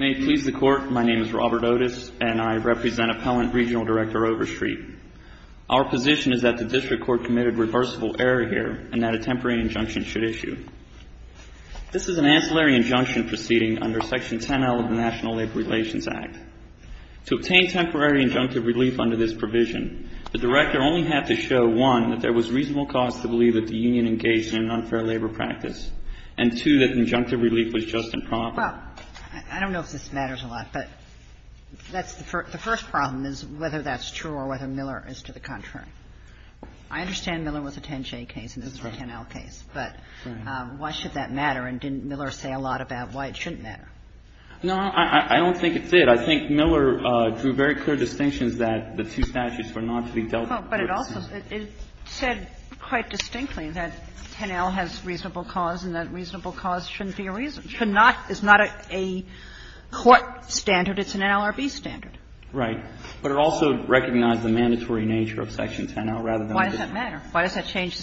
May it please the Court, my name is Robert Otis, and I represent Appellant Regional Director Overstreet. Our position is that the District Court committed reversible error here, and that a temporary injunction should issue. This is an ancillary injunction proceeding under Section 10L of the National Labor Relations Act. To obtain temporary injunctive relief under this provision, the Director only had to show, one, that there was reasonable cause to believe that the union engaged in an unfair labor practice, and, two, that injunctive relief was just and proper. Well, I don't know if this matters a lot, but that's the first problem is whether that's true or whether Miller is to the contrary. I understand Miller was a 10J case and this is a 10L case, but why should that matter, and didn't Miller say a lot about why it shouldn't matter? No, I don't think it did. I think Miller drew very clear distinctions that the two statutes were not to be dealt with. But it also said quite distinctly that 10L has reasonable cause and that reasonable cause shouldn't be a reason. It's not a court standard. It's an NLRB standard. Right. But it also recognized the mandatory nature of Section 10L rather than the district. Why does that matter? Why does that change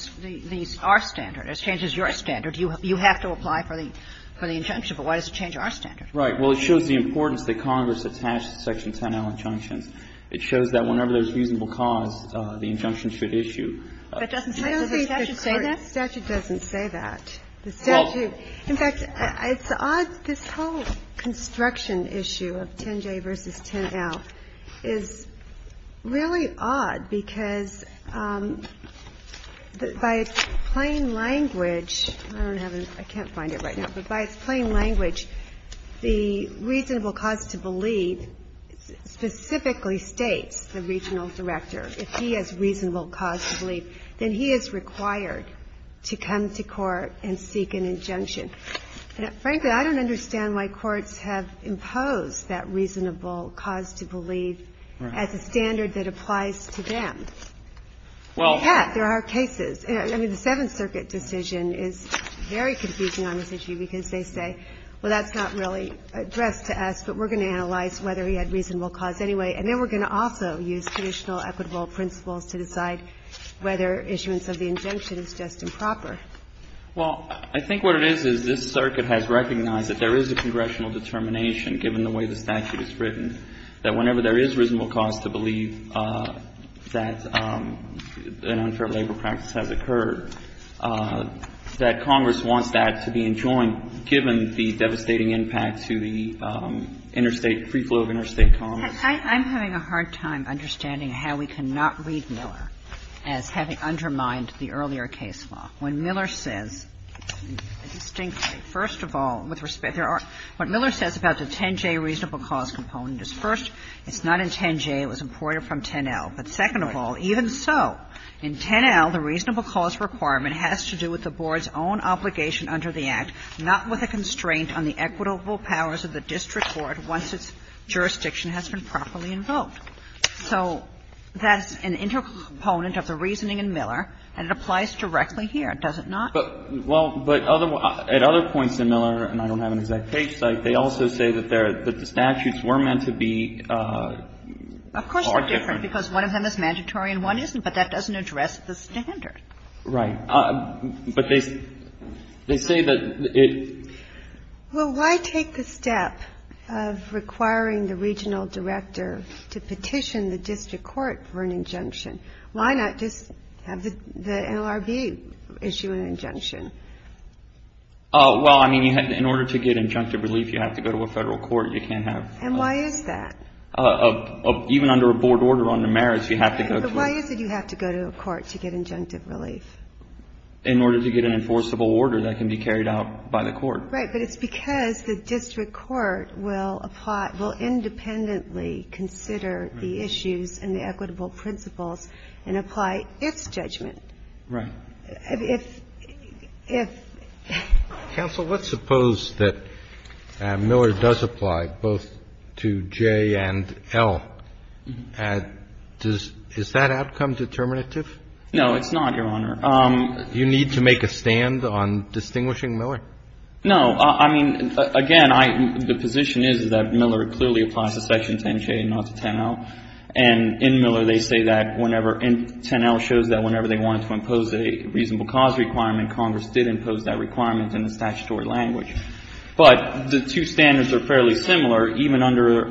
our standard? It changes your standard. You have to apply for the injunction, but why does it change our standard? Right. Well, it shows the importance that Congress attached to Section 10L injunctions. It shows that whenever there's reasonable cause, the injunction should issue. But doesn't the statute say that? The statute doesn't say that. The statute. In fact, it's odd. This whole construction issue of 10J v. 10L is really odd because by its plain language – I don't have it. I can't find it right now. But by its plain language, the reasonable cause to believe specifically states the regional director. If he has reasonable cause to believe, then he is required to come to court and seek an injunction. And frankly, I don't understand why courts have imposed that reasonable cause to believe as a standard that applies to them. Well, there are cases. I mean, the Seventh Circuit decision is very confusing on this issue because they say, well, that's not really addressed to us, but we're going to analyze whether he had reasonable cause anyway. And then we're going to also use conditional equitable principles to decide whether issuance of the injunction is just improper. Well, I think what it is, is this circuit has recognized that there is a congressional determination, given the way the statute is written, that whenever there is reasonable cause to believe that an unfair labor practice has occurred, that Congress wants that to be enjoined, given the devastating impact to the interstate, free flow of interstate commerce. I'm having a hard time understanding how we cannot read Miller as having undermined the earlier case law. When Miller says, distinctly, first of all, with respect, there are – what Miller says about the 10J reasonable cause component is, first, it's not in 10J. It was imported from 10L. But second of all, even so, in 10L, the reasonable cause requirement has to do with the Board's own obligation under the Act, not with a constraint on the equitable powers of the district court once its jurisdiction has been properly invoked. So that's an integral component of the reasoning in Miller, and it applies directly here, does it not? But, well, but other – at other points in Miller, and I don't have an exact page cite, they also say that the statutes were meant to be far different. Of course they're different, because one of them is mandatory and one isn't, but that doesn't address the standard. Right. But they say that it – Well, why take the step of requiring the regional director to petition the district court for an injunction? Why not just have the NLRB issue an injunction? Well, I mean, in order to get injunctive relief, you have to go to a federal court. You can't have – And why is that? Even under a Board order under merits, you have to go to a – But why is it you have to go to a court to get injunctive relief? In order to get an enforceable order that can be carried out by the court. Right. But it's because the district court will apply – will independently consider the issues and the equitable principles and apply its judgment. Right. If – if – Counsel, let's suppose that Miller does apply both to J and L. Does – is that outcome determinative? No, it's not, Your Honor. You need to make a stand on distinguishing Miller? No. I mean, again, I – the position is that Miller clearly applies to Section 10J, not to 10L, and in Miller, they say that whenever – and 10L shows that whenever they wanted to impose a reasonable cause requirement, Congress did impose that requirement in the statutory language. But the two standards are fairly similar, even under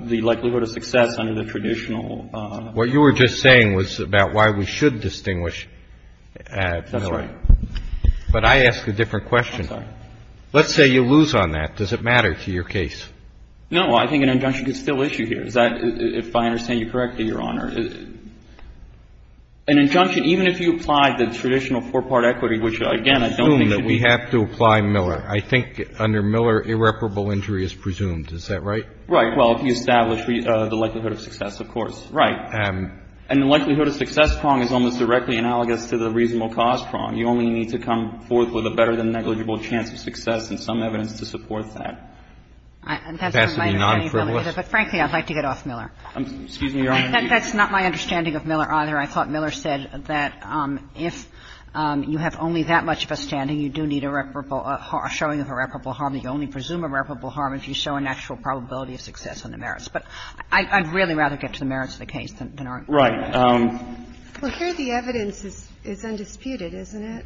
the likelihood of success under the traditional – What you were just saying was about why we should distinguish Miller. That's right. But I ask a different question. I'm sorry. Let's say you lose on that. Does it matter to your case? No. I think an injunction is still issue here. Is that – if I understand you correctly, Your Honor, an injunction, even if you apply the traditional four-part equity, which, again, I don't think should be used as an injunction I think under Miller, irreparable injury is presumed. Is that right? Right. Well, if you establish the likelihood of success, of course. Right. And the likelihood of success prong is almost directly analogous to the reasonable cause prong. You only need to come forth with a better-than-negligible chance of success and some evidence to support that. It has to be non-frivolous. But, frankly, I'd like to get off Miller. Excuse me, Your Honor. That's not my understanding of Miller either. I thought Miller said that if you have only that much of a standing, you do need a reparable – a showing of irreparable harm. You only presume irreparable harm if you show a natural probability of success on the merits. But I'd really rather get to the merits of the case than our – Right. Well, here the evidence is undisputed, isn't it?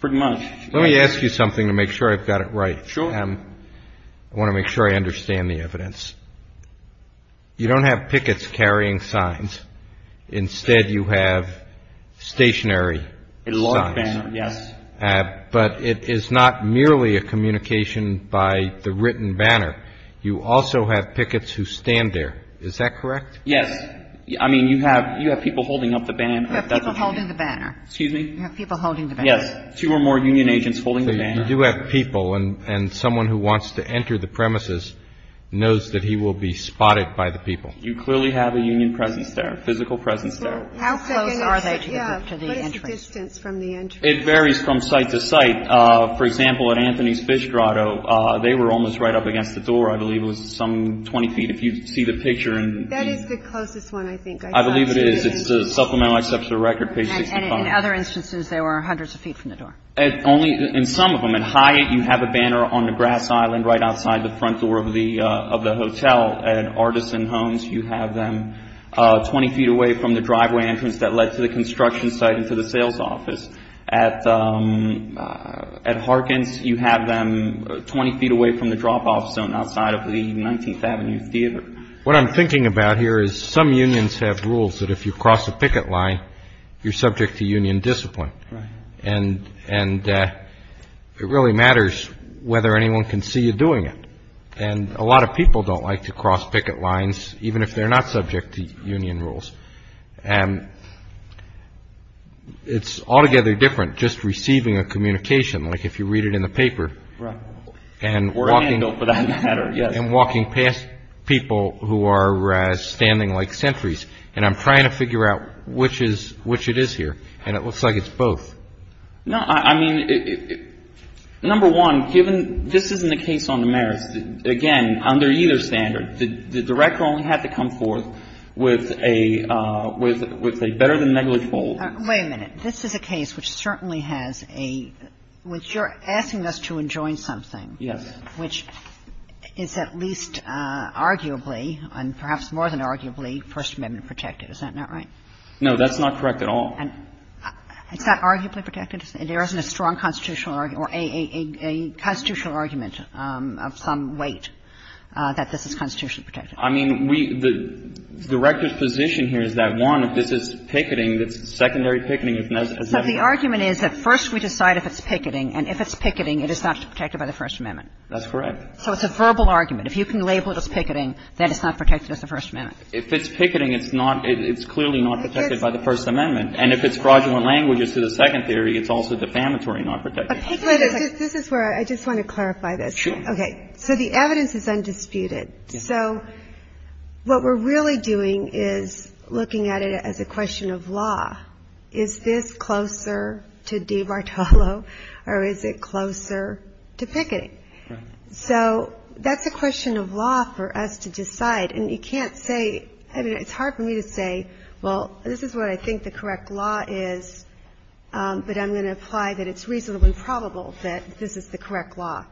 Pretty much. Let me ask you something to make sure I've got it right. Sure. I want to make sure I understand the evidence. You don't have pickets carrying signs. Instead, you have stationary signs. A large banner, yes. But it is not merely a communication by the written banner. You also have pickets who stand there. Is that correct? Yes. I mean, you have – you have people holding up the banner. You have people holding the banner. Excuse me? You have people holding the banner. Yes. Two or more union agents holding the banner. I do have people, and someone who wants to enter the premises knows that he will be spotted by the people. You clearly have a union presence there, a physical presence there. How close are they to the entrance? What is the distance from the entrance? It varies from site to site. For example, at Anthony's Fish Grotto, they were almost right up against the door. I believe it was some 20 feet, if you see the picture. That is the closest one, I think. I believe it is. It's Supplemental Exception of the Record, page 65. And in other instances, they were hundreds of feet from the door. Only in some of them. At Hyatt, you have a banner on the grass island right outside the front door of the hotel. At Artisan Homes, you have them 20 feet away from the driveway entrance that led to the construction site and to the sales office. At Harkins, you have them 20 feet away from the drop-off zone outside of the 19th Avenue Theater. What I'm thinking about here is some unions have rules that if you cross a picket line, you're subject to union discipline. Right. And it really matters whether anyone can see you doing it. And a lot of people don't like to cross picket lines, even if they're not subject to union rules. And it's altogether different just receiving a communication, like if you read it in the paper. Right. Or a handle, for that matter, yes. And walking past people who are standing like sentries. And I'm trying to figure out which it is here. And it looks like it's both. No, I mean, number one, given this isn't a case on the merits, again, under either standard, the Director only had to come forth with a better than negligible. Wait a minute. This is a case which certainly has a – which you're asking us to enjoin something. Yes. Which is at least arguably, and perhaps more than arguably, First Amendment protected. Is that not right? No, that's not correct at all. And it's not arguably protected? There isn't a strong constitutional argument or a constitutional argument of some weight that this is constitutionally protected? I mean, we – the Director's position here is that, one, if this is picketing, it's secondary picketing. So the argument is that first we decide if it's picketing, and if it's picketing, it is not protected by the First Amendment. That's correct. So it's a verbal argument. If you can label it as picketing, then it's not protected as the First Amendment. If it's picketing, it's not – it's clearly not protected by the First Amendment. And if it's fraudulent languages to the second theory, it's also defamatory, not protected. But picketing is – this is where I just want to clarify this. Sure. Okay. So the evidence is undisputed. So what we're really doing is looking at it as a question of law. Is this closer to De Martello, or is it closer to picketing? Right. So that's a question of law for us to decide. And you can't say – I mean, it's hard for me to say, well, this is what I think the correct law is, but I'm going to imply that it's reasonably probable that this is the correct law.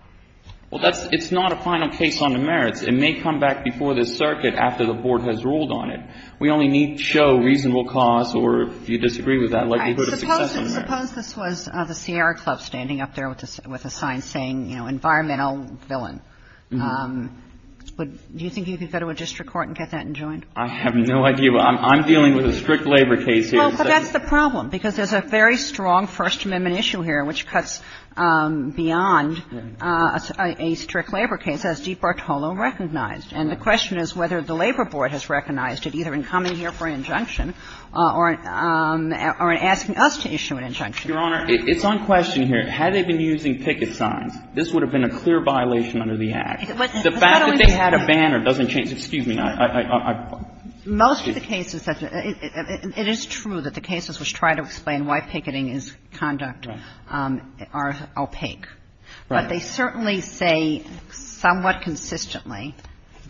Well, that's – it's not a final case on the merits. It may come back before the circuit after the Board has ruled on it. We only need to show reasonable cause or, if you disagree with that, likelihood of success on the merits. Suppose this was the Sierra Club standing up there with a sign saying, you know, environmental villain. Do you think you could go to a district court and get that enjoined? I have no idea. I'm dealing with a strict labor case here. Well, but that's the problem, because there's a very strong First Amendment issue here which cuts beyond a strict labor case, as De Martello recognized. And the question is whether the Labor Board has recognized it, either in coming here for an injunction or in asking us to issue an injunction. Your Honor, it's on question here. Had they been using ticket signs, this would have been a clear violation under the Act. The fact that they had a banner doesn't change – excuse me. Most of the cases that – it is true that the cases which try to explain why picketing is conduct are opaque. But they certainly say somewhat consistently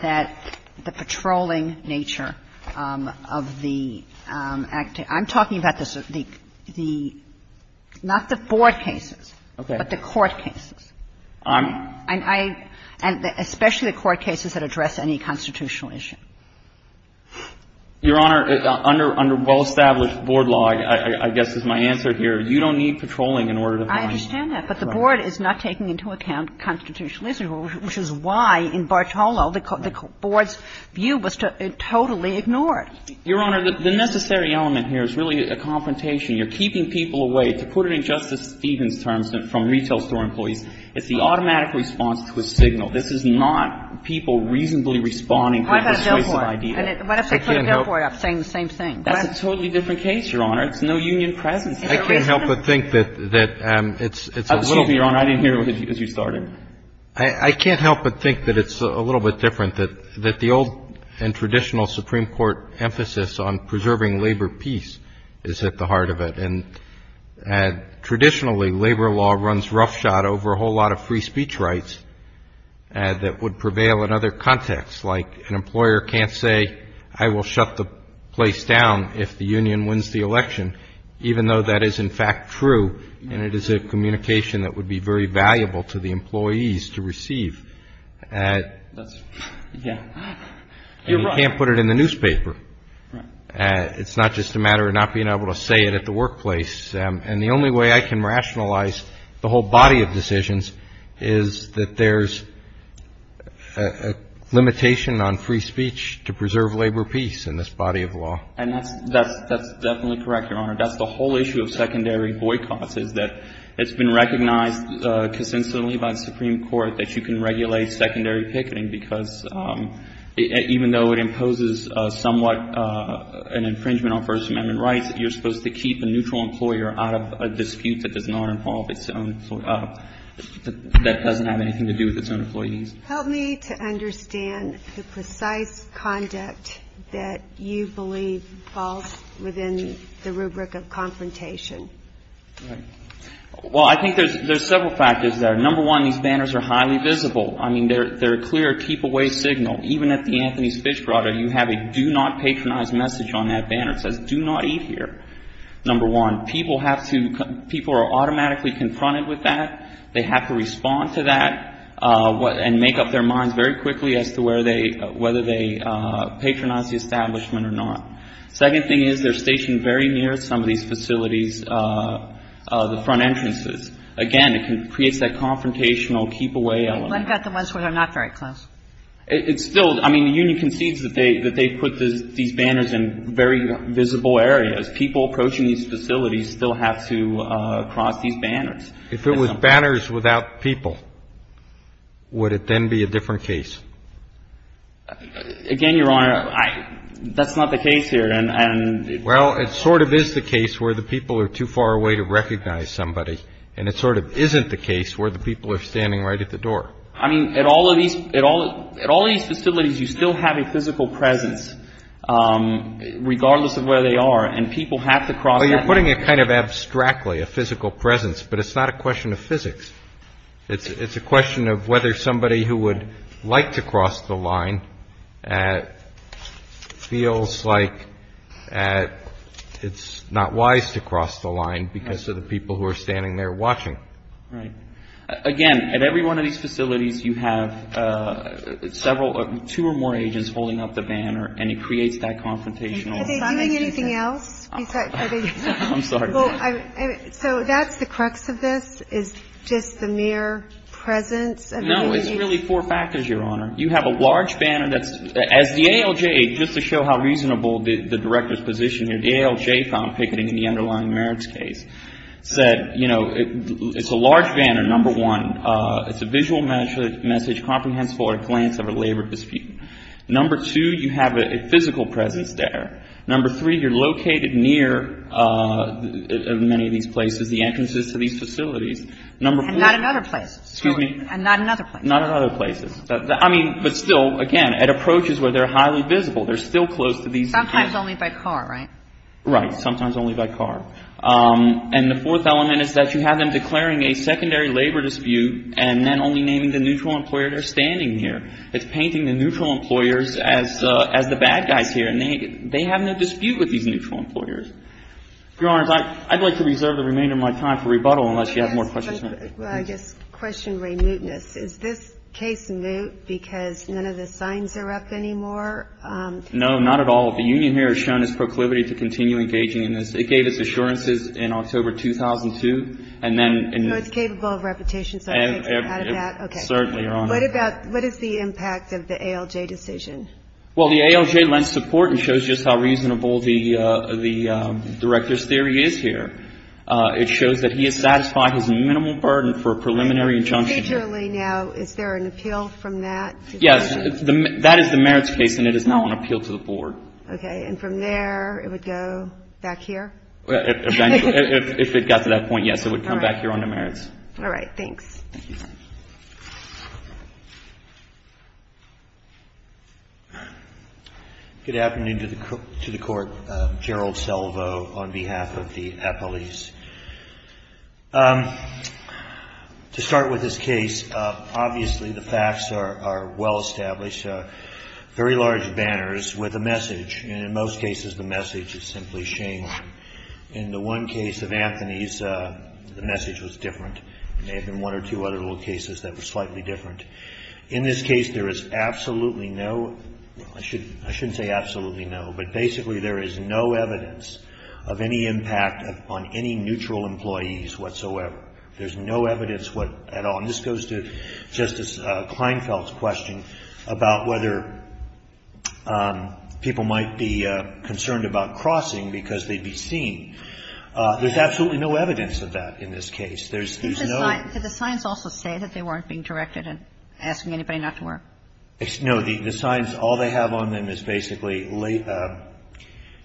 that the patrolling nature of the – I'm talking about the – not the Board cases, but the court cases. And I – and especially the court cases that address any constitutional issue. Your Honor, under well-established board law, I guess is my answer here, you don't need patrolling in order to find – I understand that. But the Board is not taking into account constitutional issues, which is why in Bartolo the Board's view was totally ignored. Your Honor, the necessary element here is really a confrontation. You're keeping people away. To put it in Justice Stevens' terms, from retail store employees, it's the automatic response to a signal. This is not people reasonably responding to a signal. It's a persuasive idea. And what if they put a bill for it saying the same thing? That's a totally different case, Your Honor. It's no union presence. I can't help but think that it's a – Excuse me, Your Honor, I didn't hear you as you started. I can't help but think that it's a little bit different, that the old and traditional Supreme Court emphasis on preserving labor peace is at the heart of it. And traditionally, labor law runs roughshod over a whole lot of free speech rights that would prevail in other contexts. Like an employer can't say, I will shut the place down if the union wins the election, even though that is, in fact, true, and it is a communication that would be very valuable to the employees to receive. That's – yeah, you're right. And you can't put it in the newspaper. Right. It's not just a matter of not being able to say it at the workplace. And the only way I can rationalize the whole body of decisions is that there's a limitation on free speech to preserve labor peace in this body of law. And that's definitely correct, Your Honor. That's the whole issue of secondary boycotts is that it's been recognized consensually by the Supreme Court that you can regulate secondary picketing because even though it imposes somewhat an infringement on First Amendment rights, you're supposed to keep a neutral employer out of a dispute that does not involve its own – that doesn't have anything to do with its own employee needs. Help me to understand the precise conduct that you believe falls within the rubric of confrontation. Right. Well, I think there's several factors there. Number one, these banners are highly visible. I mean, they're a clear keep-away signal. Even at the Anthony's Fish Brother, you have a do-not-patronize message on that banner. It says, do not eat here. Number one, people have to – people are automatically confronted with that. They have to respond to that and make up their minds very quickly as to where they – whether they patronize the establishment or not. Second thing is they're stationed very near some of these facilities, the front entrances. Again, it creates that confrontational keep-away element. But not the ones where they're not very close. It's still – I mean, the union concedes that they put these banners in very visible areas. People approaching these facilities still have to cross these banners. If it was banners without people, would it then be a different case? Again, Your Honor, I – that's not the case here. And – Well, it sort of is the case where the people are too far away to recognize somebody. And it sort of isn't the case where the people are standing right at the door. I mean, at all of these – at all of these facilities, you still have a physical presence regardless of where they are. And people have to cross that line. Well, you're putting it kind of abstractly, a physical presence, but it's not a question of physics. It's a question of whether somebody who would like to cross the line feels like it's not wise to cross the line because of the people who are standing there watching. Right. Again, at every one of these facilities, you have several – two or more agents holding up the banner. And it creates that confrontational – Are they doing anything else? I'm sorry. I'm sorry. So that's the crux of this, is just the mere presence of the agent? No. It's really four factors, Your Honor. You have a large banner that's – as the ALJ, just to show how reasonable the Director's position here, the ALJ found picketing in the underlying merits case, said, you know, it's a large banner, number one. It's a visual message, comprehensible at a glance of a labor dispute. Number two, you have a physical presence there. Number three, you're located near many of these places, the entrances to these facilities. Number four – And not in other places. Excuse me? And not in other places. Not in other places. I mean, but still, again, it approaches where they're highly visible. They're still close to these – Sometimes only by car, right? Right. Sometimes only by car. And the fourth element is that you have them declaring a secondary labor dispute and then only naming the neutral employer they're standing near. It's painting the neutral employers as the bad guys here. And they have no dispute with these neutral employers. Your Honor, I'd like to reserve the remainder of my time for rebuttal unless you have more questions. Well, I guess question remuteness. Is this case moot because none of the signs are up anymore? No, not at all. The union here has shown its proclivity to continue engaging in this. It gave its assurances in October 2002. And then – So it's capable of repetition, so it takes it out of that? Certainly, Your Honor. What about – what is the impact of the ALJ decision? Well, the ALJ lends support and shows just how reasonable the Director's theory is here. It shows that he has satisfied his minimal burden for a preliminary injunction. And procedurally now, is there an appeal from that? Yes. That is the merits case, and it is not on appeal to the Board. Okay. And from there, it would go back here? Eventually. If it got to that point, yes, it would come back here on the merits. All right. Thanks. Thank you. Good afternoon to the Court. Gerald Selvo on behalf of the appellees. To start with this case, obviously the facts are well established. Very large banners with a message. And in most cases, the message is simply shame. In the one case of Anthony's, the message was different. There may have been one or two other little cases that were slightly different. In this case, there is absolutely no – I shouldn't say absolutely no, but basically there is no evidence of any impact on any neutral employees whatsoever. There's no evidence what – at all. And this goes to Justice Kleinfeld's question about whether people might be concerned about crossing because they'd be seen. There's absolutely no evidence of that in this case. There's no – Did the signs also say that they weren't being directed and asking anybody not to work? No. The signs, all they have on them is basically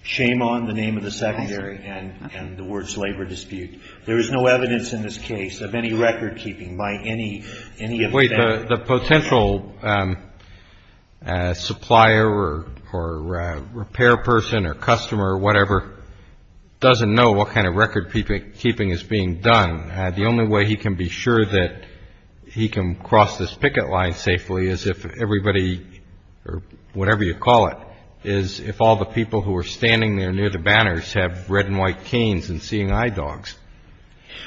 shame on the name of the secondary and the words labor dispute. There is no evidence in this case of any recordkeeping by any of the – Wait. The potential supplier or repair person or customer or whatever doesn't know what kind of recordkeeping is being done. The only way he can be sure that he can cross this picket line safely is if everybody or whatever you call it, is if all the people who are standing there near the banners have red and white canes and seeing eye dogs.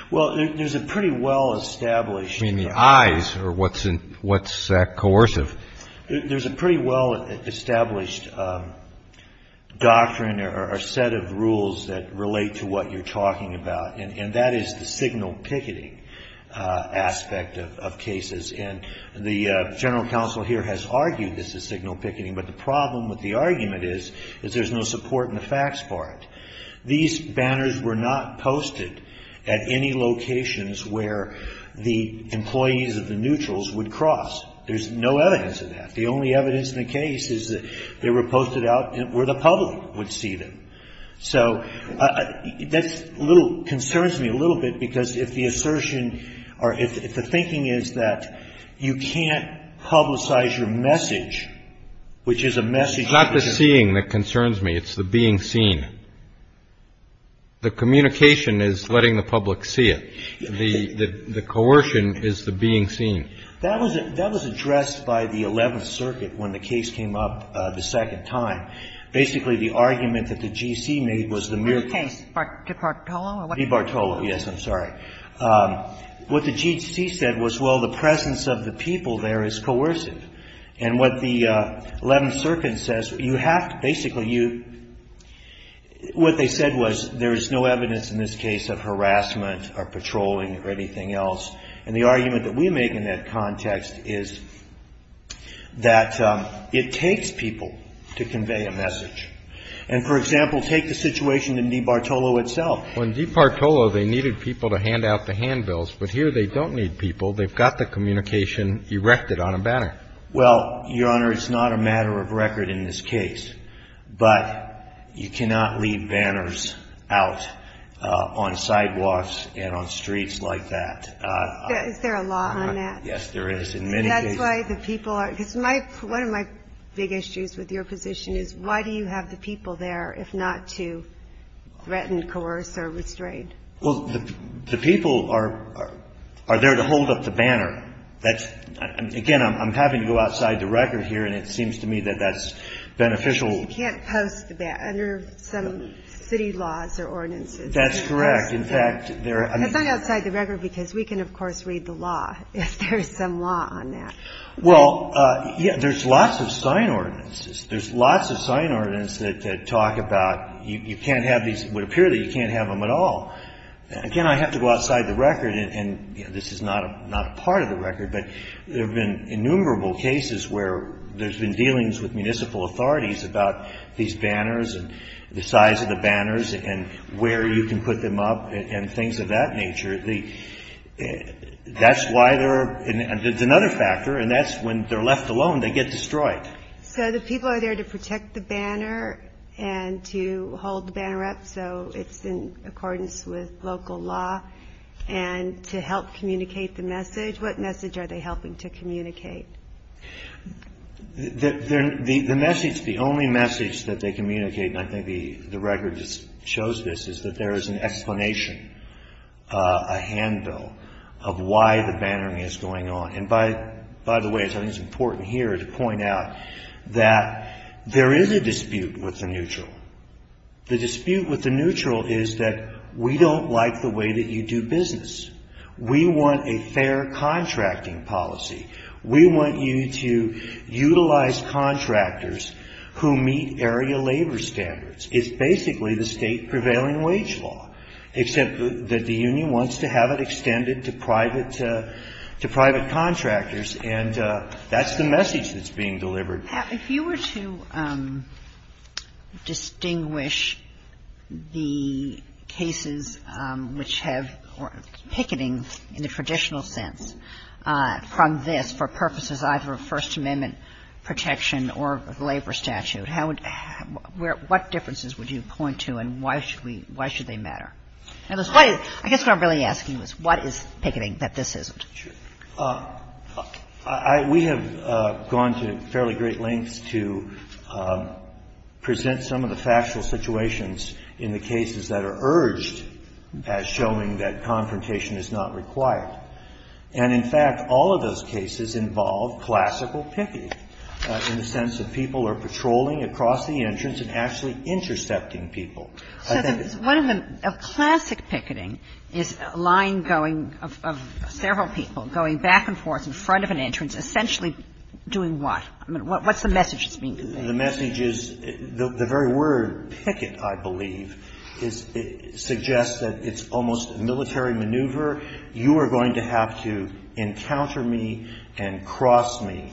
Well, there's a pretty well established – You mean the eyes or what's coercive? There's a pretty well established doctrine or set of rules that relate to what you're talking about. And that is the signal picketing aspect of cases. And the general counsel here has argued this is signal picketing. But the problem with the argument is, is there's no support in the facts part. These banners were not posted at any locations where the employees of the neutrals would cross. There's no evidence of that. The only evidence in the case is that they were posted out where the public would see them. So that concerns me a little bit because if the assertion or if the thinking is that you can't publicize your message, which is a message – It's not the seeing that concerns me. It's the being seen. The communication is letting the public see it. The coercion is the being seen. That was addressed by the 11th Circuit when the case came up the second time. Basically, the argument that the G.C. made was the mere – The case. Bartolo? B. Bartolo, yes. I'm sorry. What the G.C. said was, well, the presence of the people there is coercive. And what the 11th Circuit says, you have to – basically, you – what they said was there is no evidence in this case of harassment or patrolling or anything else. And the argument that we make in that context is that it takes people to convey a message. And, for example, take the situation in D. Bartolo itself. Well, in D. Bartolo, they needed people to hand out the handbills. But here they don't need people. They've got the communication erected on a banner. Well, Your Honor, it's not a matter of record in this case. But you cannot leave banners out on sidewalks and on streets like that. Is there a law on that? Yes, there is in many cases. And that's why the people are – because my – one of my big issues with your position is why do you have the people there if not to threaten, coerce, or restrain? Well, the people are there to hold up the banner. That's – again, I'm having to go outside the record here. And it seems to me that that's beneficial. You can't post that under some city laws or ordinances. That's correct. In fact, there – That's not outside the record because we can, of course, read the law if there's some law on that. Well, yeah, there's lots of sign ordinances. There's lots of sign ordinances that talk about you can't have these – it would appear that you can't have them at all. Again, I have to go outside the record. And this is not a part of the record. But there have been innumerable cases where there's been dealings with municipal authorities about these banners and the size of the banners and where you can put them up and things of that nature. That's why there are – and there's another factor, and that's when they're left alone, they get destroyed. So the people are there to protect the banner and to hold the banner up so it's in accordance with local law and to help communicate the message. What message are they helping to communicate? The message – the only message that they communicate, and I think the record just shows this, is that there is an explanation, a handle of why the bannering is going on. And by the way, I think it's important here to point out that there is a dispute with the neutral. The dispute with the neutral is that we don't like the way that you do business. We want a fair contracting policy. We want you to utilize contractors who meet area labor standards. It's basically the state prevailing wage law, except that the union wants to have it extended to private contractors, and that's the message that's being delivered. If you were to distinguish the cases which have picketing in the traditional sense from this for purposes either of First Amendment protection or labor statute, what differences would you point to and why should they matter? I guess what I'm really asking is what is picketing that this isn't? We have gone to fairly great lengths to present some of the factual situations in the cases that are urged as showing that confrontation is not required. And in fact, all of those cases involve classical picketing in the sense that people are patrolling across the entrance and actually intercepting people. So one of the classic picketing is a line going of several people going back and forth in front of an entrance, essentially doing what? I mean, what's the message that's being conveyed? The message is the very word, picket, I believe, suggests that it's almost a military maneuver. You are going to have to encounter me and cross me,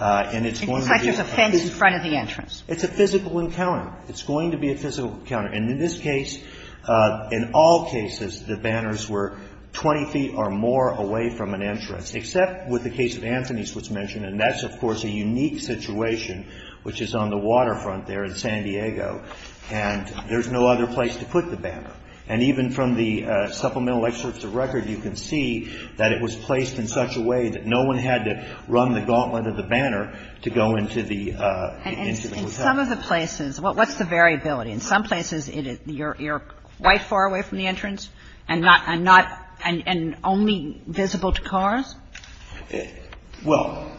and it's going to be a physical. It's like there's a fence in front of the entrance. It's a physical encounter. It's going to be a physical encounter. And in this case, in all cases, the banners were 20 feet or more away from an entrance, except with the case of Anthony's was mentioned. And that's, of course, a unique situation, which is on the waterfront there in San Diego. And there's no other place to put the banner. And even from the supplemental excerpts of record, you can see that it was placed in such a way that no one had to run the gauntlet of the banner to go into the hotel. And in some of the places, what's the variability? In some places, you're quite far away from the entrance and not – and only visible to cars? Well,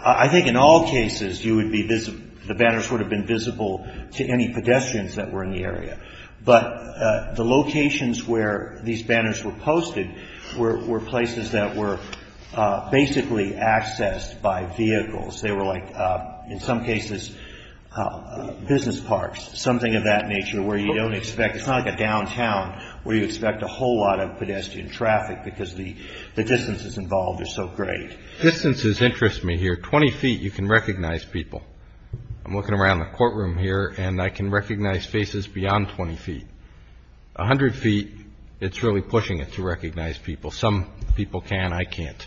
I think in all cases, you would be – the banners would have been visible to any pedestrians that were in the area. But the locations where these banners were posted were places that were basically accessed by vehicles. They were like, in some cases, business parks, something of that nature, where you don't expect – it's not like a downtown where you expect a whole lot of pedestrian traffic because the distances involved are so great. Distances interest me here. 20 feet, you can recognize people. I'm looking around the courtroom here, and I can recognize faces beyond 20 feet. A hundred feet, it's really pushing it to recognize people. Some people can. I can't.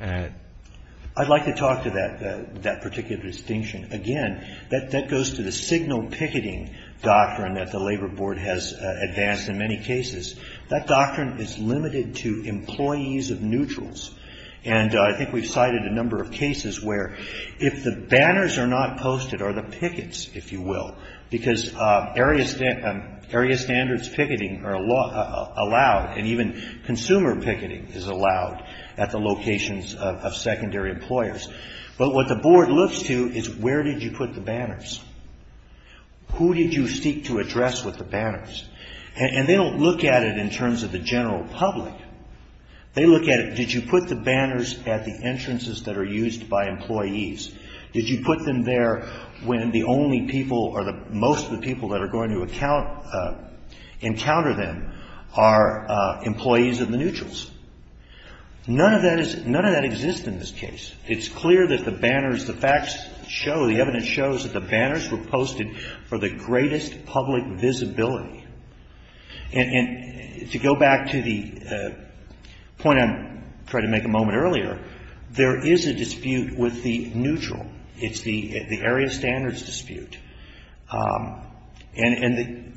I'd like to talk to that particular distinction. Again, that goes to the signal picketing doctrine that the Labor Board has advanced in many cases. That doctrine is limited to employees of neutrals. And I think we've cited a number of cases where if the banners are not posted or the pickets, if you will, because area standards picketing are allowed, and even consumer picketing is allowed at the locations of secondary employers. But what the board looks to is where did you put the banners? Who did you seek to address with the banners? And they don't look at it in terms of the general public. They look at it, did you put the banners at the entrances that are used by employees? Did you put them there when the only people or most of the people that are going to encounter them are employees of the neutrals? None of that exists in this case. It's clear that the banners, the facts show, the evidence shows that the banners were posted for the greatest public visibility. And to go back to the point I tried to make a moment earlier, there is a dispute with the neutral. It's the area standards dispute. And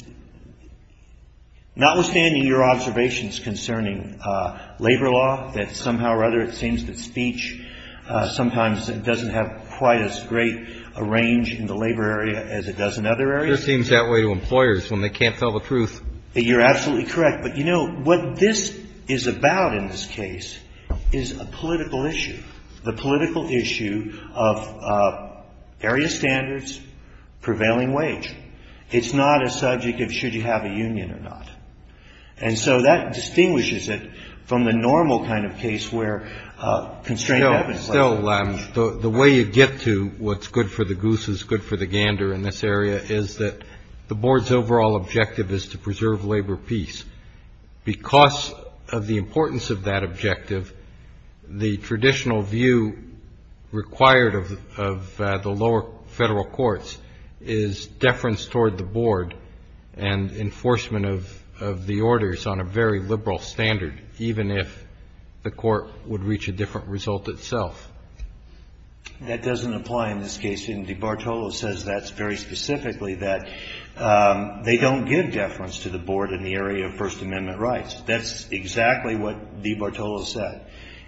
notwithstanding your observations concerning labor law, that somehow or other it seems that speech sometimes doesn't have quite as great a range in the labor area as it does in other areas. It just seems that way to employers when they can't tell the truth. You're absolutely correct. But, you know, what this is about in this case is a political issue. The political issue of area standards, prevailing wage. It's not a subject of should you have a union or not. And so that distinguishes it from the normal kind of case where constraint happens. Still, the way you get to what's good for the goose is good for the gander in this area is that the board's overall objective is to preserve labor peace. Because of the importance of that objective, the traditional view required of the lower federal courts is deference toward the board and enforcement of the orders on a very liberal standard, even if the court would reach a different result itself. That doesn't apply in this case. Indeed, Bartolo says that very specifically, that they don't give deference to the board in the area of First Amendment rights. That's exactly what Lee Bartolo said.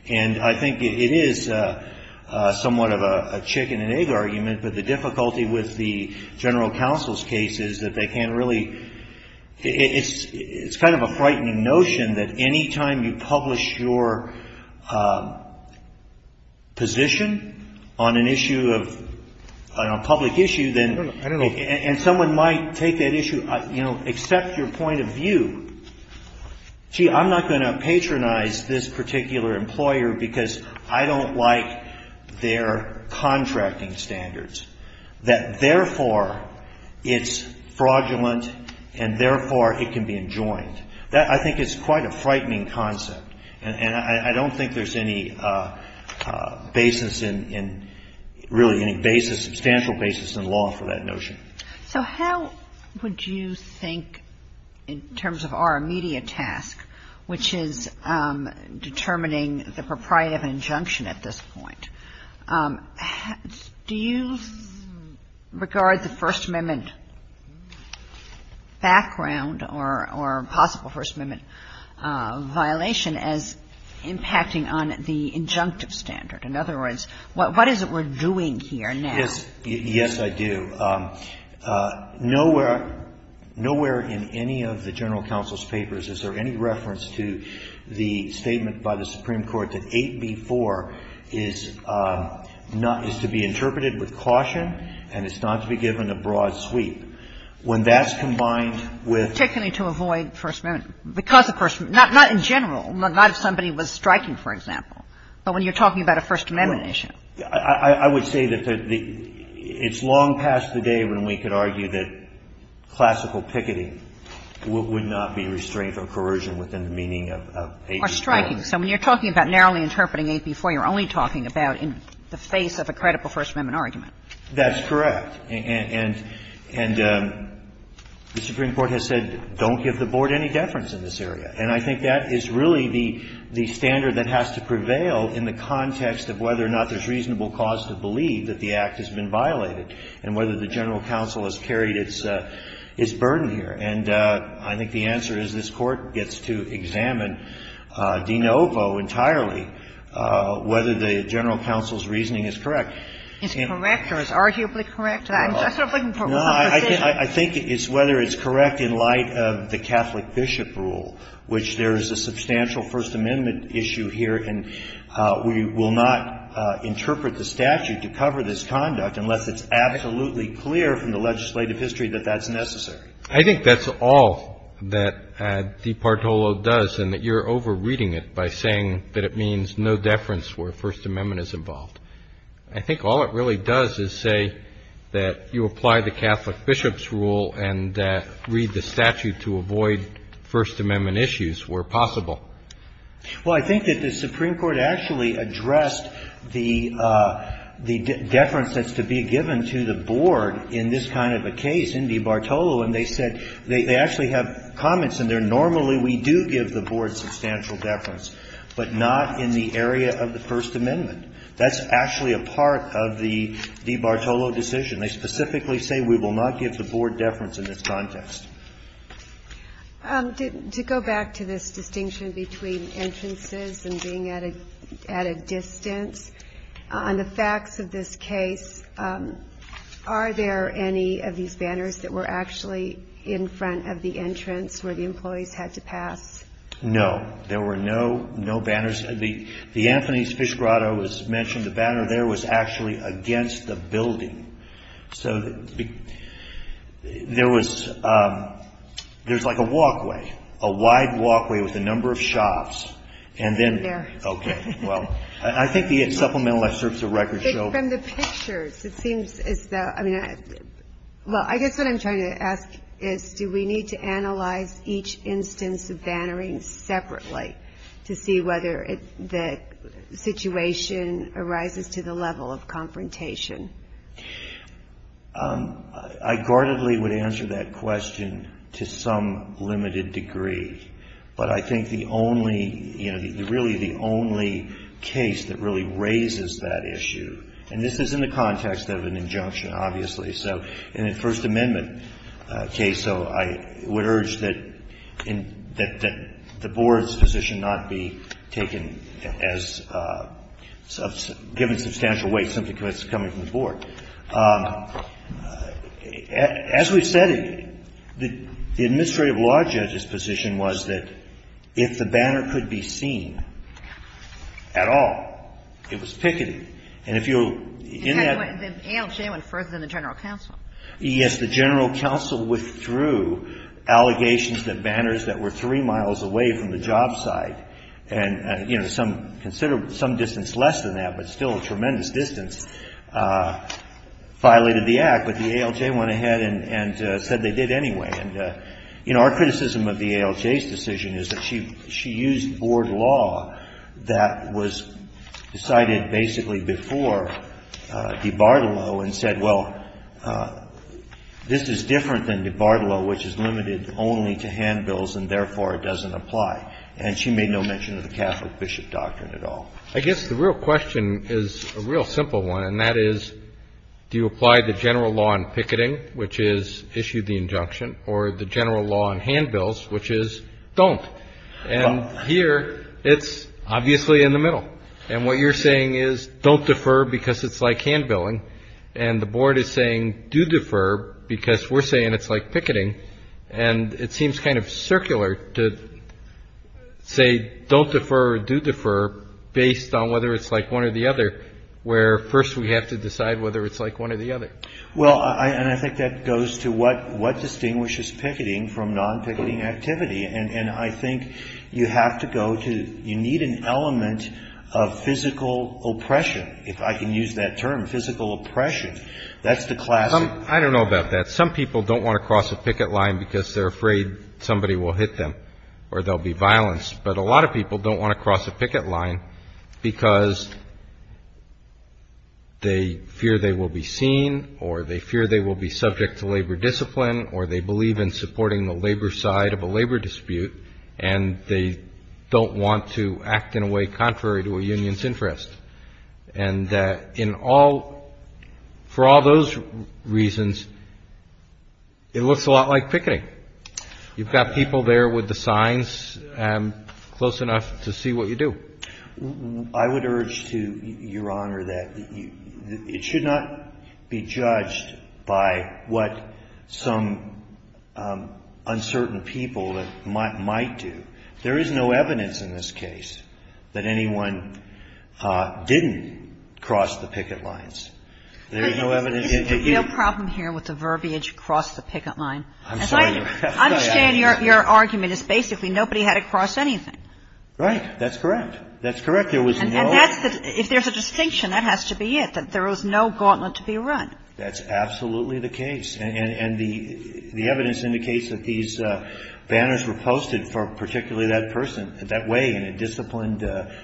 And I think it is somewhat of a chicken and egg argument, but the difficulty with the general counsel's case is that they can't really – it's kind of a frightening notion that any time you publish your position on an issue of – on a public issue, then – I don't know. And someone might take that issue, you know, accept your point of view. Gee, I'm not going to patronize this particular employer because I don't like their contracting standards, that therefore it's fraudulent and therefore it can be enjoined. I think it's quite a frightening concept. And I don't think there's any basis in – really any basis, substantial basis in law for that notion. So how would you think in terms of our immediate task, which is determining the propriety of an injunction at this point, do you regard the First Amendment background or possible First Amendment violation as impacting on the injunctive standard? In other words, what is it we're doing here now? Yes. Yes, I do. Nowhere – nowhere in any of the general counsel's papers is there any reference to the statement by the Supreme Court that 8b-4 is not – is to be interpreted with caution and it's not to be given a broad sweep. When that's combined with – Particularly to avoid First Amendment. Because of First – not in general. Not if somebody was striking, for example. But when you're talking about a First Amendment issue. I would say that it's long past the day when we could argue that classical picketing would not be restrained from coercion within the meaning of 8b-4. Or striking. So when you're talking about narrowly interpreting 8b-4, you're only talking about in the face of a credible First Amendment argument. That's correct. And the Supreme Court has said, don't give the Board any deference in this area. And I think that is really the standard that has to prevail in the context of whether or not there's reasonable cause to believe that the Act has been violated and whether the general counsel has carried its burden here. And I think the answer is this Court gets to examine de novo entirely whether the general counsel's reasoning is correct. Is correct or is arguably correct? I'm just sort of looking for one position. I think it's whether it's correct in light of the Catholic bishop rule, which there is a substantial First Amendment issue here. And we will not interpret the statute to cover this conduct unless it's absolutely clear from the legislative history that that's necessary. I think that's all that Di Partolo does, and that you're over-reading it by saying that it means no deference where First Amendment is involved. I think all it really does is say that you apply the Catholic bishop's rule and read the statute to avoid First Amendment issues where possible. Well, I think that the Supreme Court actually addressed the deference that's to be given to the Board in this kind of a case, Indy Bartolo, and they said they actually have comments in there. Normally we do give the Board substantial deference, but not in the area of the First Amendment. That's actually a part of the Di Bartolo decision. They specifically say we will not give the Board deference in this context. To go back to this distinction between entrances and being at a distance, on the facts of this case, are there any of these banners that were actually in front of the entrance where the employees had to pass? No, there were no banners. The Anthony's Fish Grotto was mentioned. The banner there was actually against the building. So there was, there's like a walkway, a wide walkway with a number of shops, and then, okay, well, I think the supplemental excerpts of records show. From the pictures, it seems as though, well, I guess what I'm trying to ask is do we need to analyze each instance of bannering separately to see whether the situation arises to the level of confrontation? I guardedly would answer that question to some limited degree. But I think the only, you know, really the only case that really raises that issue, and this is in the context of an injunction, obviously, so in a First Amendment case, so I would urge that the Board's position not be taken as, given substantial weight simply because it's coming from the Board. As we've said, the administrative law judge's position was that if the banner could be seen at all, it was pickety. And if you, in that... And the ALJ went further than the General Counsel. Yes, the General Counsel withdrew allegations that banners that were three miles away from the job site, and, you know, some distance less than that, but still a tremendous distance, violated the Act. But the ALJ went ahead and said they did anyway. And, you know, our criticism of the ALJ's decision is that she used Board law that was decided basically before de Bartolo and said, well, this is different than de Bartolo, which is limited only to handbills, and therefore it doesn't apply. And she made no mention of the Catholic bishop doctrine at all. I guess the real question is a real simple one, and that is, do you apply the general law in picketing, which is issue the injunction, or the general law in handbills, which is don't? And here, it's obviously in the middle. And what you're saying is, don't defer because it's like handbilling. And the Board is saying do defer because we're saying it's like picketing. And it seems kind of circular to say don't defer or do defer based on whether it's like one or the other, where first we have to decide whether it's like one or the other. Well, and I think that goes to what distinguishes picketing from non-picketing activity. And I think you have to go to You need an element of physical oppression, if I can use that term, physical oppression. That's the classic. I don't know about that. Some people don't want to cross a picket line because they're afraid somebody will hit them or there'll be violence. But a lot of people don't want to cross a picket line because they fear they will be seen or they fear they will be subject to labor discipline or they believe in supporting the labor side of a labor dispute and they don't want to act in a way contrary to a union's interest. And for all those reasons, it looks a lot like picketing. You've got people there with the signs close enough to see what you do. I would urge to Your Honor that it should not be judged by what some uncertain people might do. There is no evidence in this case that anyone didn't cross the picket lines. There is no evidence. The real problem here with the verbiage cross the picket line. I'm sorry. I understand your argument is basically nobody had to cross anything. Right. That's correct. That's correct. There was no If there's a distinction, that has to be it, that there was no gauntlet to be run. That's absolutely the case. And the evidence indicates that these banners were posted for particularly that person, that way, in a disciplined,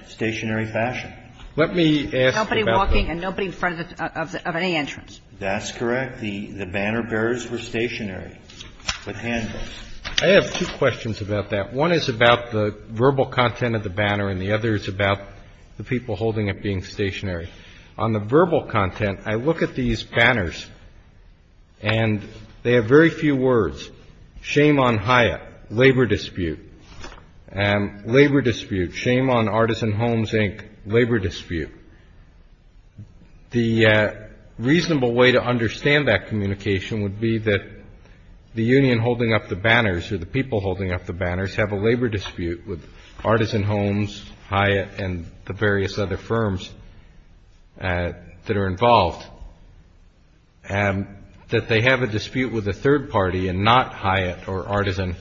stationary fashion. Let me ask about the Nobody walking and nobody in front of any entrance. That's correct. The banner bearers were stationary with handles. I have two questions about that. One is about the verbal content of the banner and the other is about the people holding it being stationary. On the verbal content, I look at these banners and they have very few words. Shame on Hyatt. Labor dispute. Labor dispute. Shame on Artisan Homes Inc. Labor dispute. The reasonable way to understand that communication would be that the union holding up the banners or the people holding up the banners have a labor dispute with Artisan Homes, Hyatt, and the various other firms that are involved. That they have a dispute with a third party and not Hyatt or Artisan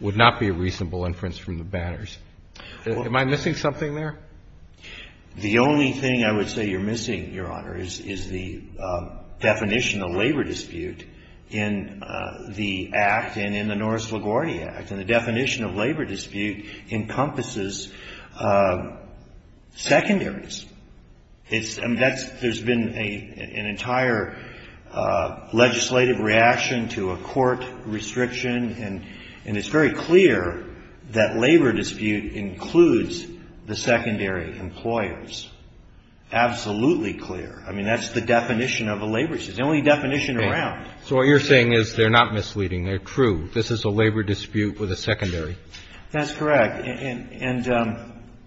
would not be a reasonable inference from the banners. Am I missing something there? The only thing I would say you're missing, Your Honor, is the definition of labor dispute in the Act and in the Norris LaGuardia Act. And the definition of labor dispute encompasses secondaries. There's been an entire legislative reaction to a court restriction and it's very clear that labor dispute includes the secondary employers. Absolutely clear. I mean, that's the definition of a labor dispute. It's the only definition around. So what you're saying is they're not misleading. They're true. This is a labor dispute with a secondary. That's correct. And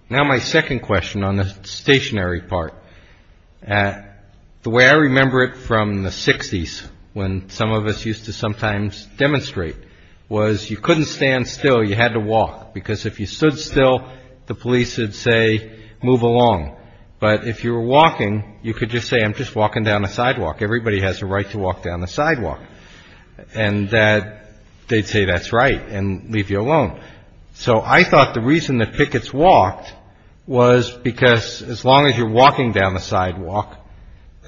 now my second question on the stationary part. The way I remember it from the 60s when some of us used to sometimes demonstrate was you couldn't stand still. You had to walk because if you stood still the police would say move along. But if you were walking you could just say I'm just walking down the sidewalk. Everybody has a right to walk down the sidewalk. And that they'd say that's right and leave you alone. So I thought the reason that pickets walked was because as long as you're walking down the sidewalk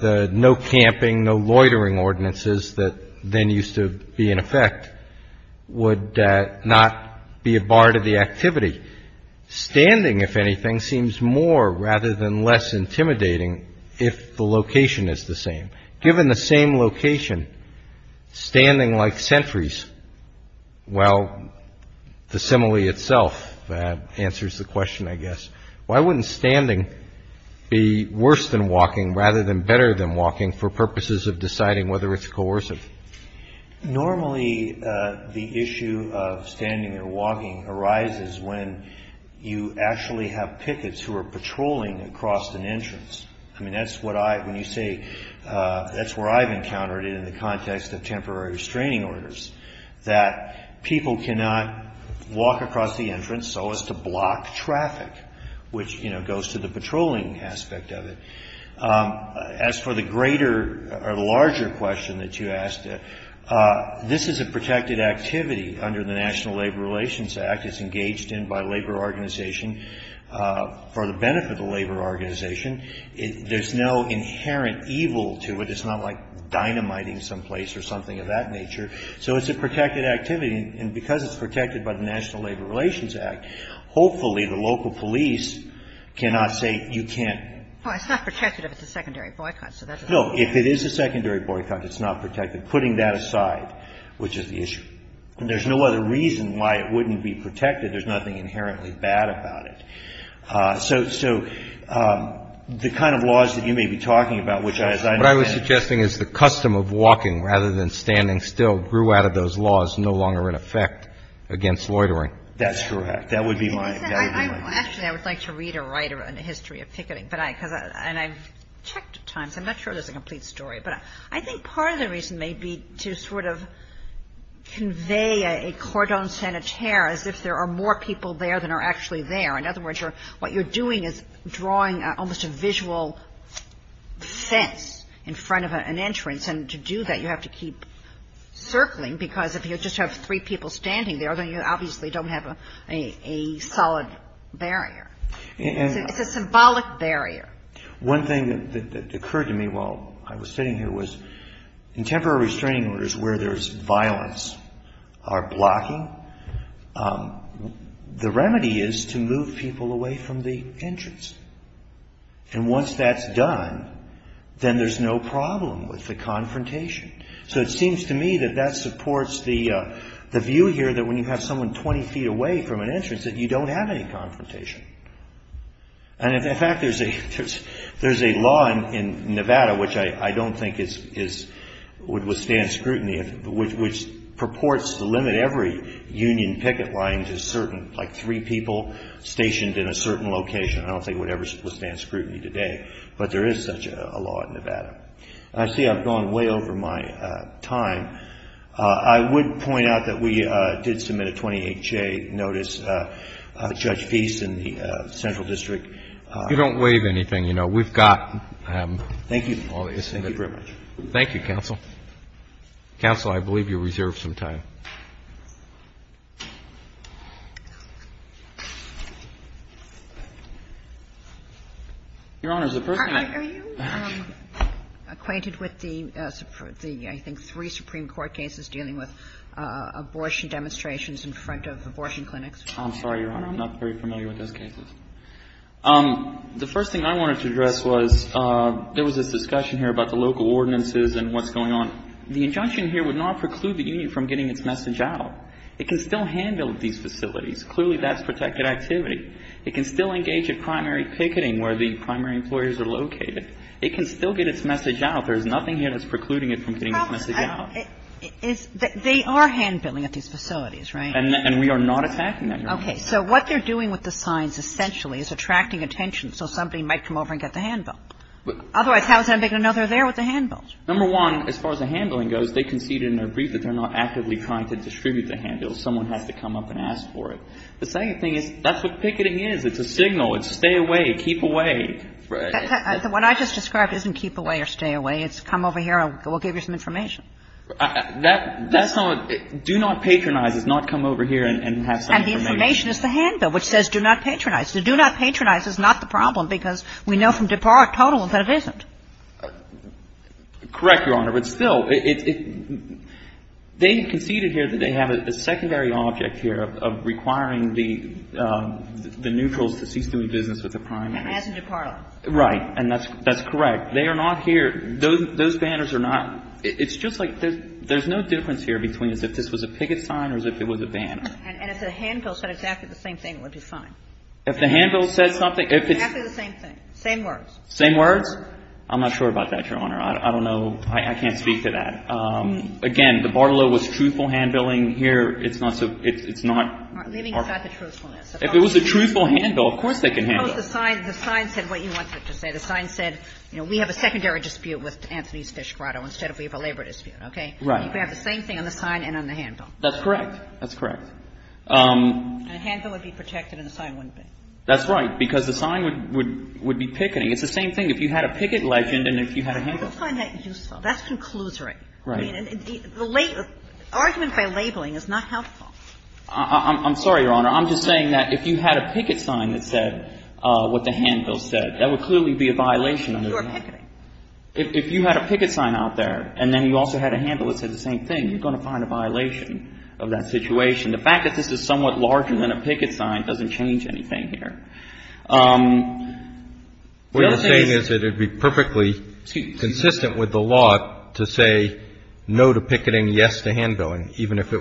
the no camping no loitering ordinances that then used to be in effect would not be a bar to the activity. Standing if anything seems more rather than less intimidating if the location is the same. Given the same location standing like sentries well the simile itself answers the question I guess. Why wouldn't standing be worse than walking rather than better than walking for purposes of deciding whether it's coercive? Normally the issue of standing or walking arises when you actually have pickets who are patrolling across an entrance. I mean that's what I when you say that's where I've encountered it in the context of temporary restraining orders that people cannot walk across the entrance so as to block traffic which you know goes to the patrolling aspect of it. As for the greater or larger question that you asked this is a protected activity under the National Labor Relations Act. It's engaged in by labor organization for the benefit of the labor organization. There's no inherent evil to it. It's not like dynamiting someplace or something of that nature. So it's a protected activity and because it's protected by the National Labor Relations Act hopefully the National by the National Labor Relations Act. It's a secondary boycott. So that's No. If it is a secondary boycott it's not protected. Putting that aside which is the issue. There's no other reason why it wouldn't be protected. There's nothing inherently bad about it. So the kind of laws that you may be talking about which I was suggesting is the custom of walking rather than standing still grew out of those laws no longer in effect against loitering. That's correct. That would be my opinion. Actually I would like to read a writer on the history of picketing and I've read a lot picketing and I don't know if there's a complete story but I think part of the reason may be to sort of convey a cordon sanitaire as if there are more people there than are actually there. In other words what you're doing is you're drawing almost a visual fence in front of an entrance and to do that you have to keep circling because if you just have three people standing there then you obviously don't have a solid barrier. It's a symbolic barrier. One thing that occurred to me while I was sitting here was in temporary restraining orders where there's no confrontation and once that's done then there's no problem with the confrontation. So it seems to me that that supports the view here that when you have someone 20 feet away from an entrance that you don't have any confrontation. In fact there's a law in Nevada which I don't think would withstand scrutiny which purports to limit every union picket line to certain like three people stationed in a certain location. I don't think it would ever withstand scrutiny today. But there is such a law in Nevada. I see I've gone way over my time. I would point out that we did submit a 28-J notice. Judge Feast in the Central District you don't waive anything you know. We've got Thank you. Thank you counsel. Counsel I believe you reserved some time. Your Honor the person Are you acquainted with the I think three Supreme Court cases dealing with abortion demonstrations in front of abortion clinics? I'm sorry Your Honor I'm not very familiar with those cases. The first thing I wanted to address was there was this discussion here about the local ordinances and what's going on. The injunction here would not preclude the union from getting its message out. It can still hand bill these facilities. Clearly that's protected activity. It can still engage in primary picketing where the primary employers are located. It can still get its message out. There is nothing here that's precluding it from getting its message out. They are hand billing at these facilities, right? And we are not attacking that. Okay. So what they're doing with the signs essentially is attracting attention so somebody might come over and get the hand bill. Otherwise how is that going to make another there with the hand bills? Number one, as far as the hand billing goes, they concede in their brief that they're not actively trying to distribute the hand bills. Someone has to come up and ask for it. The second thing is that's what picketing is. It's a signal. It's stay away, keep away. Right. The one I just described isn't keep away or stay away. It's come over here and we'll give you some information. That's not do not patronize. It's not come over here and I think not that's not correct. between the hand bill and the picket. There's a difference between the picket and the hand bill. And the hand bill would be fine. Same words? I'm not sure about that. I can't speak to that. Again, the Bartolo was truthful hand billing. It's not leaving out the truthfulness. If it was a truthful hand bill, of course they can handle it. Suppose the sign said what you wanted it to say. The sign said we have a secondary dispute with Anthony's fish grotto instead of a labor dispute. You can have the same thing on the sign and on the hand bill. That's correct. A hand bill would be protected and a sign wouldn't be. It's the same thing if you had a picket legend. And if you had a hand bill. I don't find that useful. That's conclusory. Argument by labeling is not helpful. I'm sorry, Your Honor. I'm just saying that if you had a picket sign that said what the hand bill said, that would clearly be a violation. If you had a picket sign out there and then you also had a hand bill that said the same thing, you're going to find a violation of that situation. The fact that this is somewhat larger than a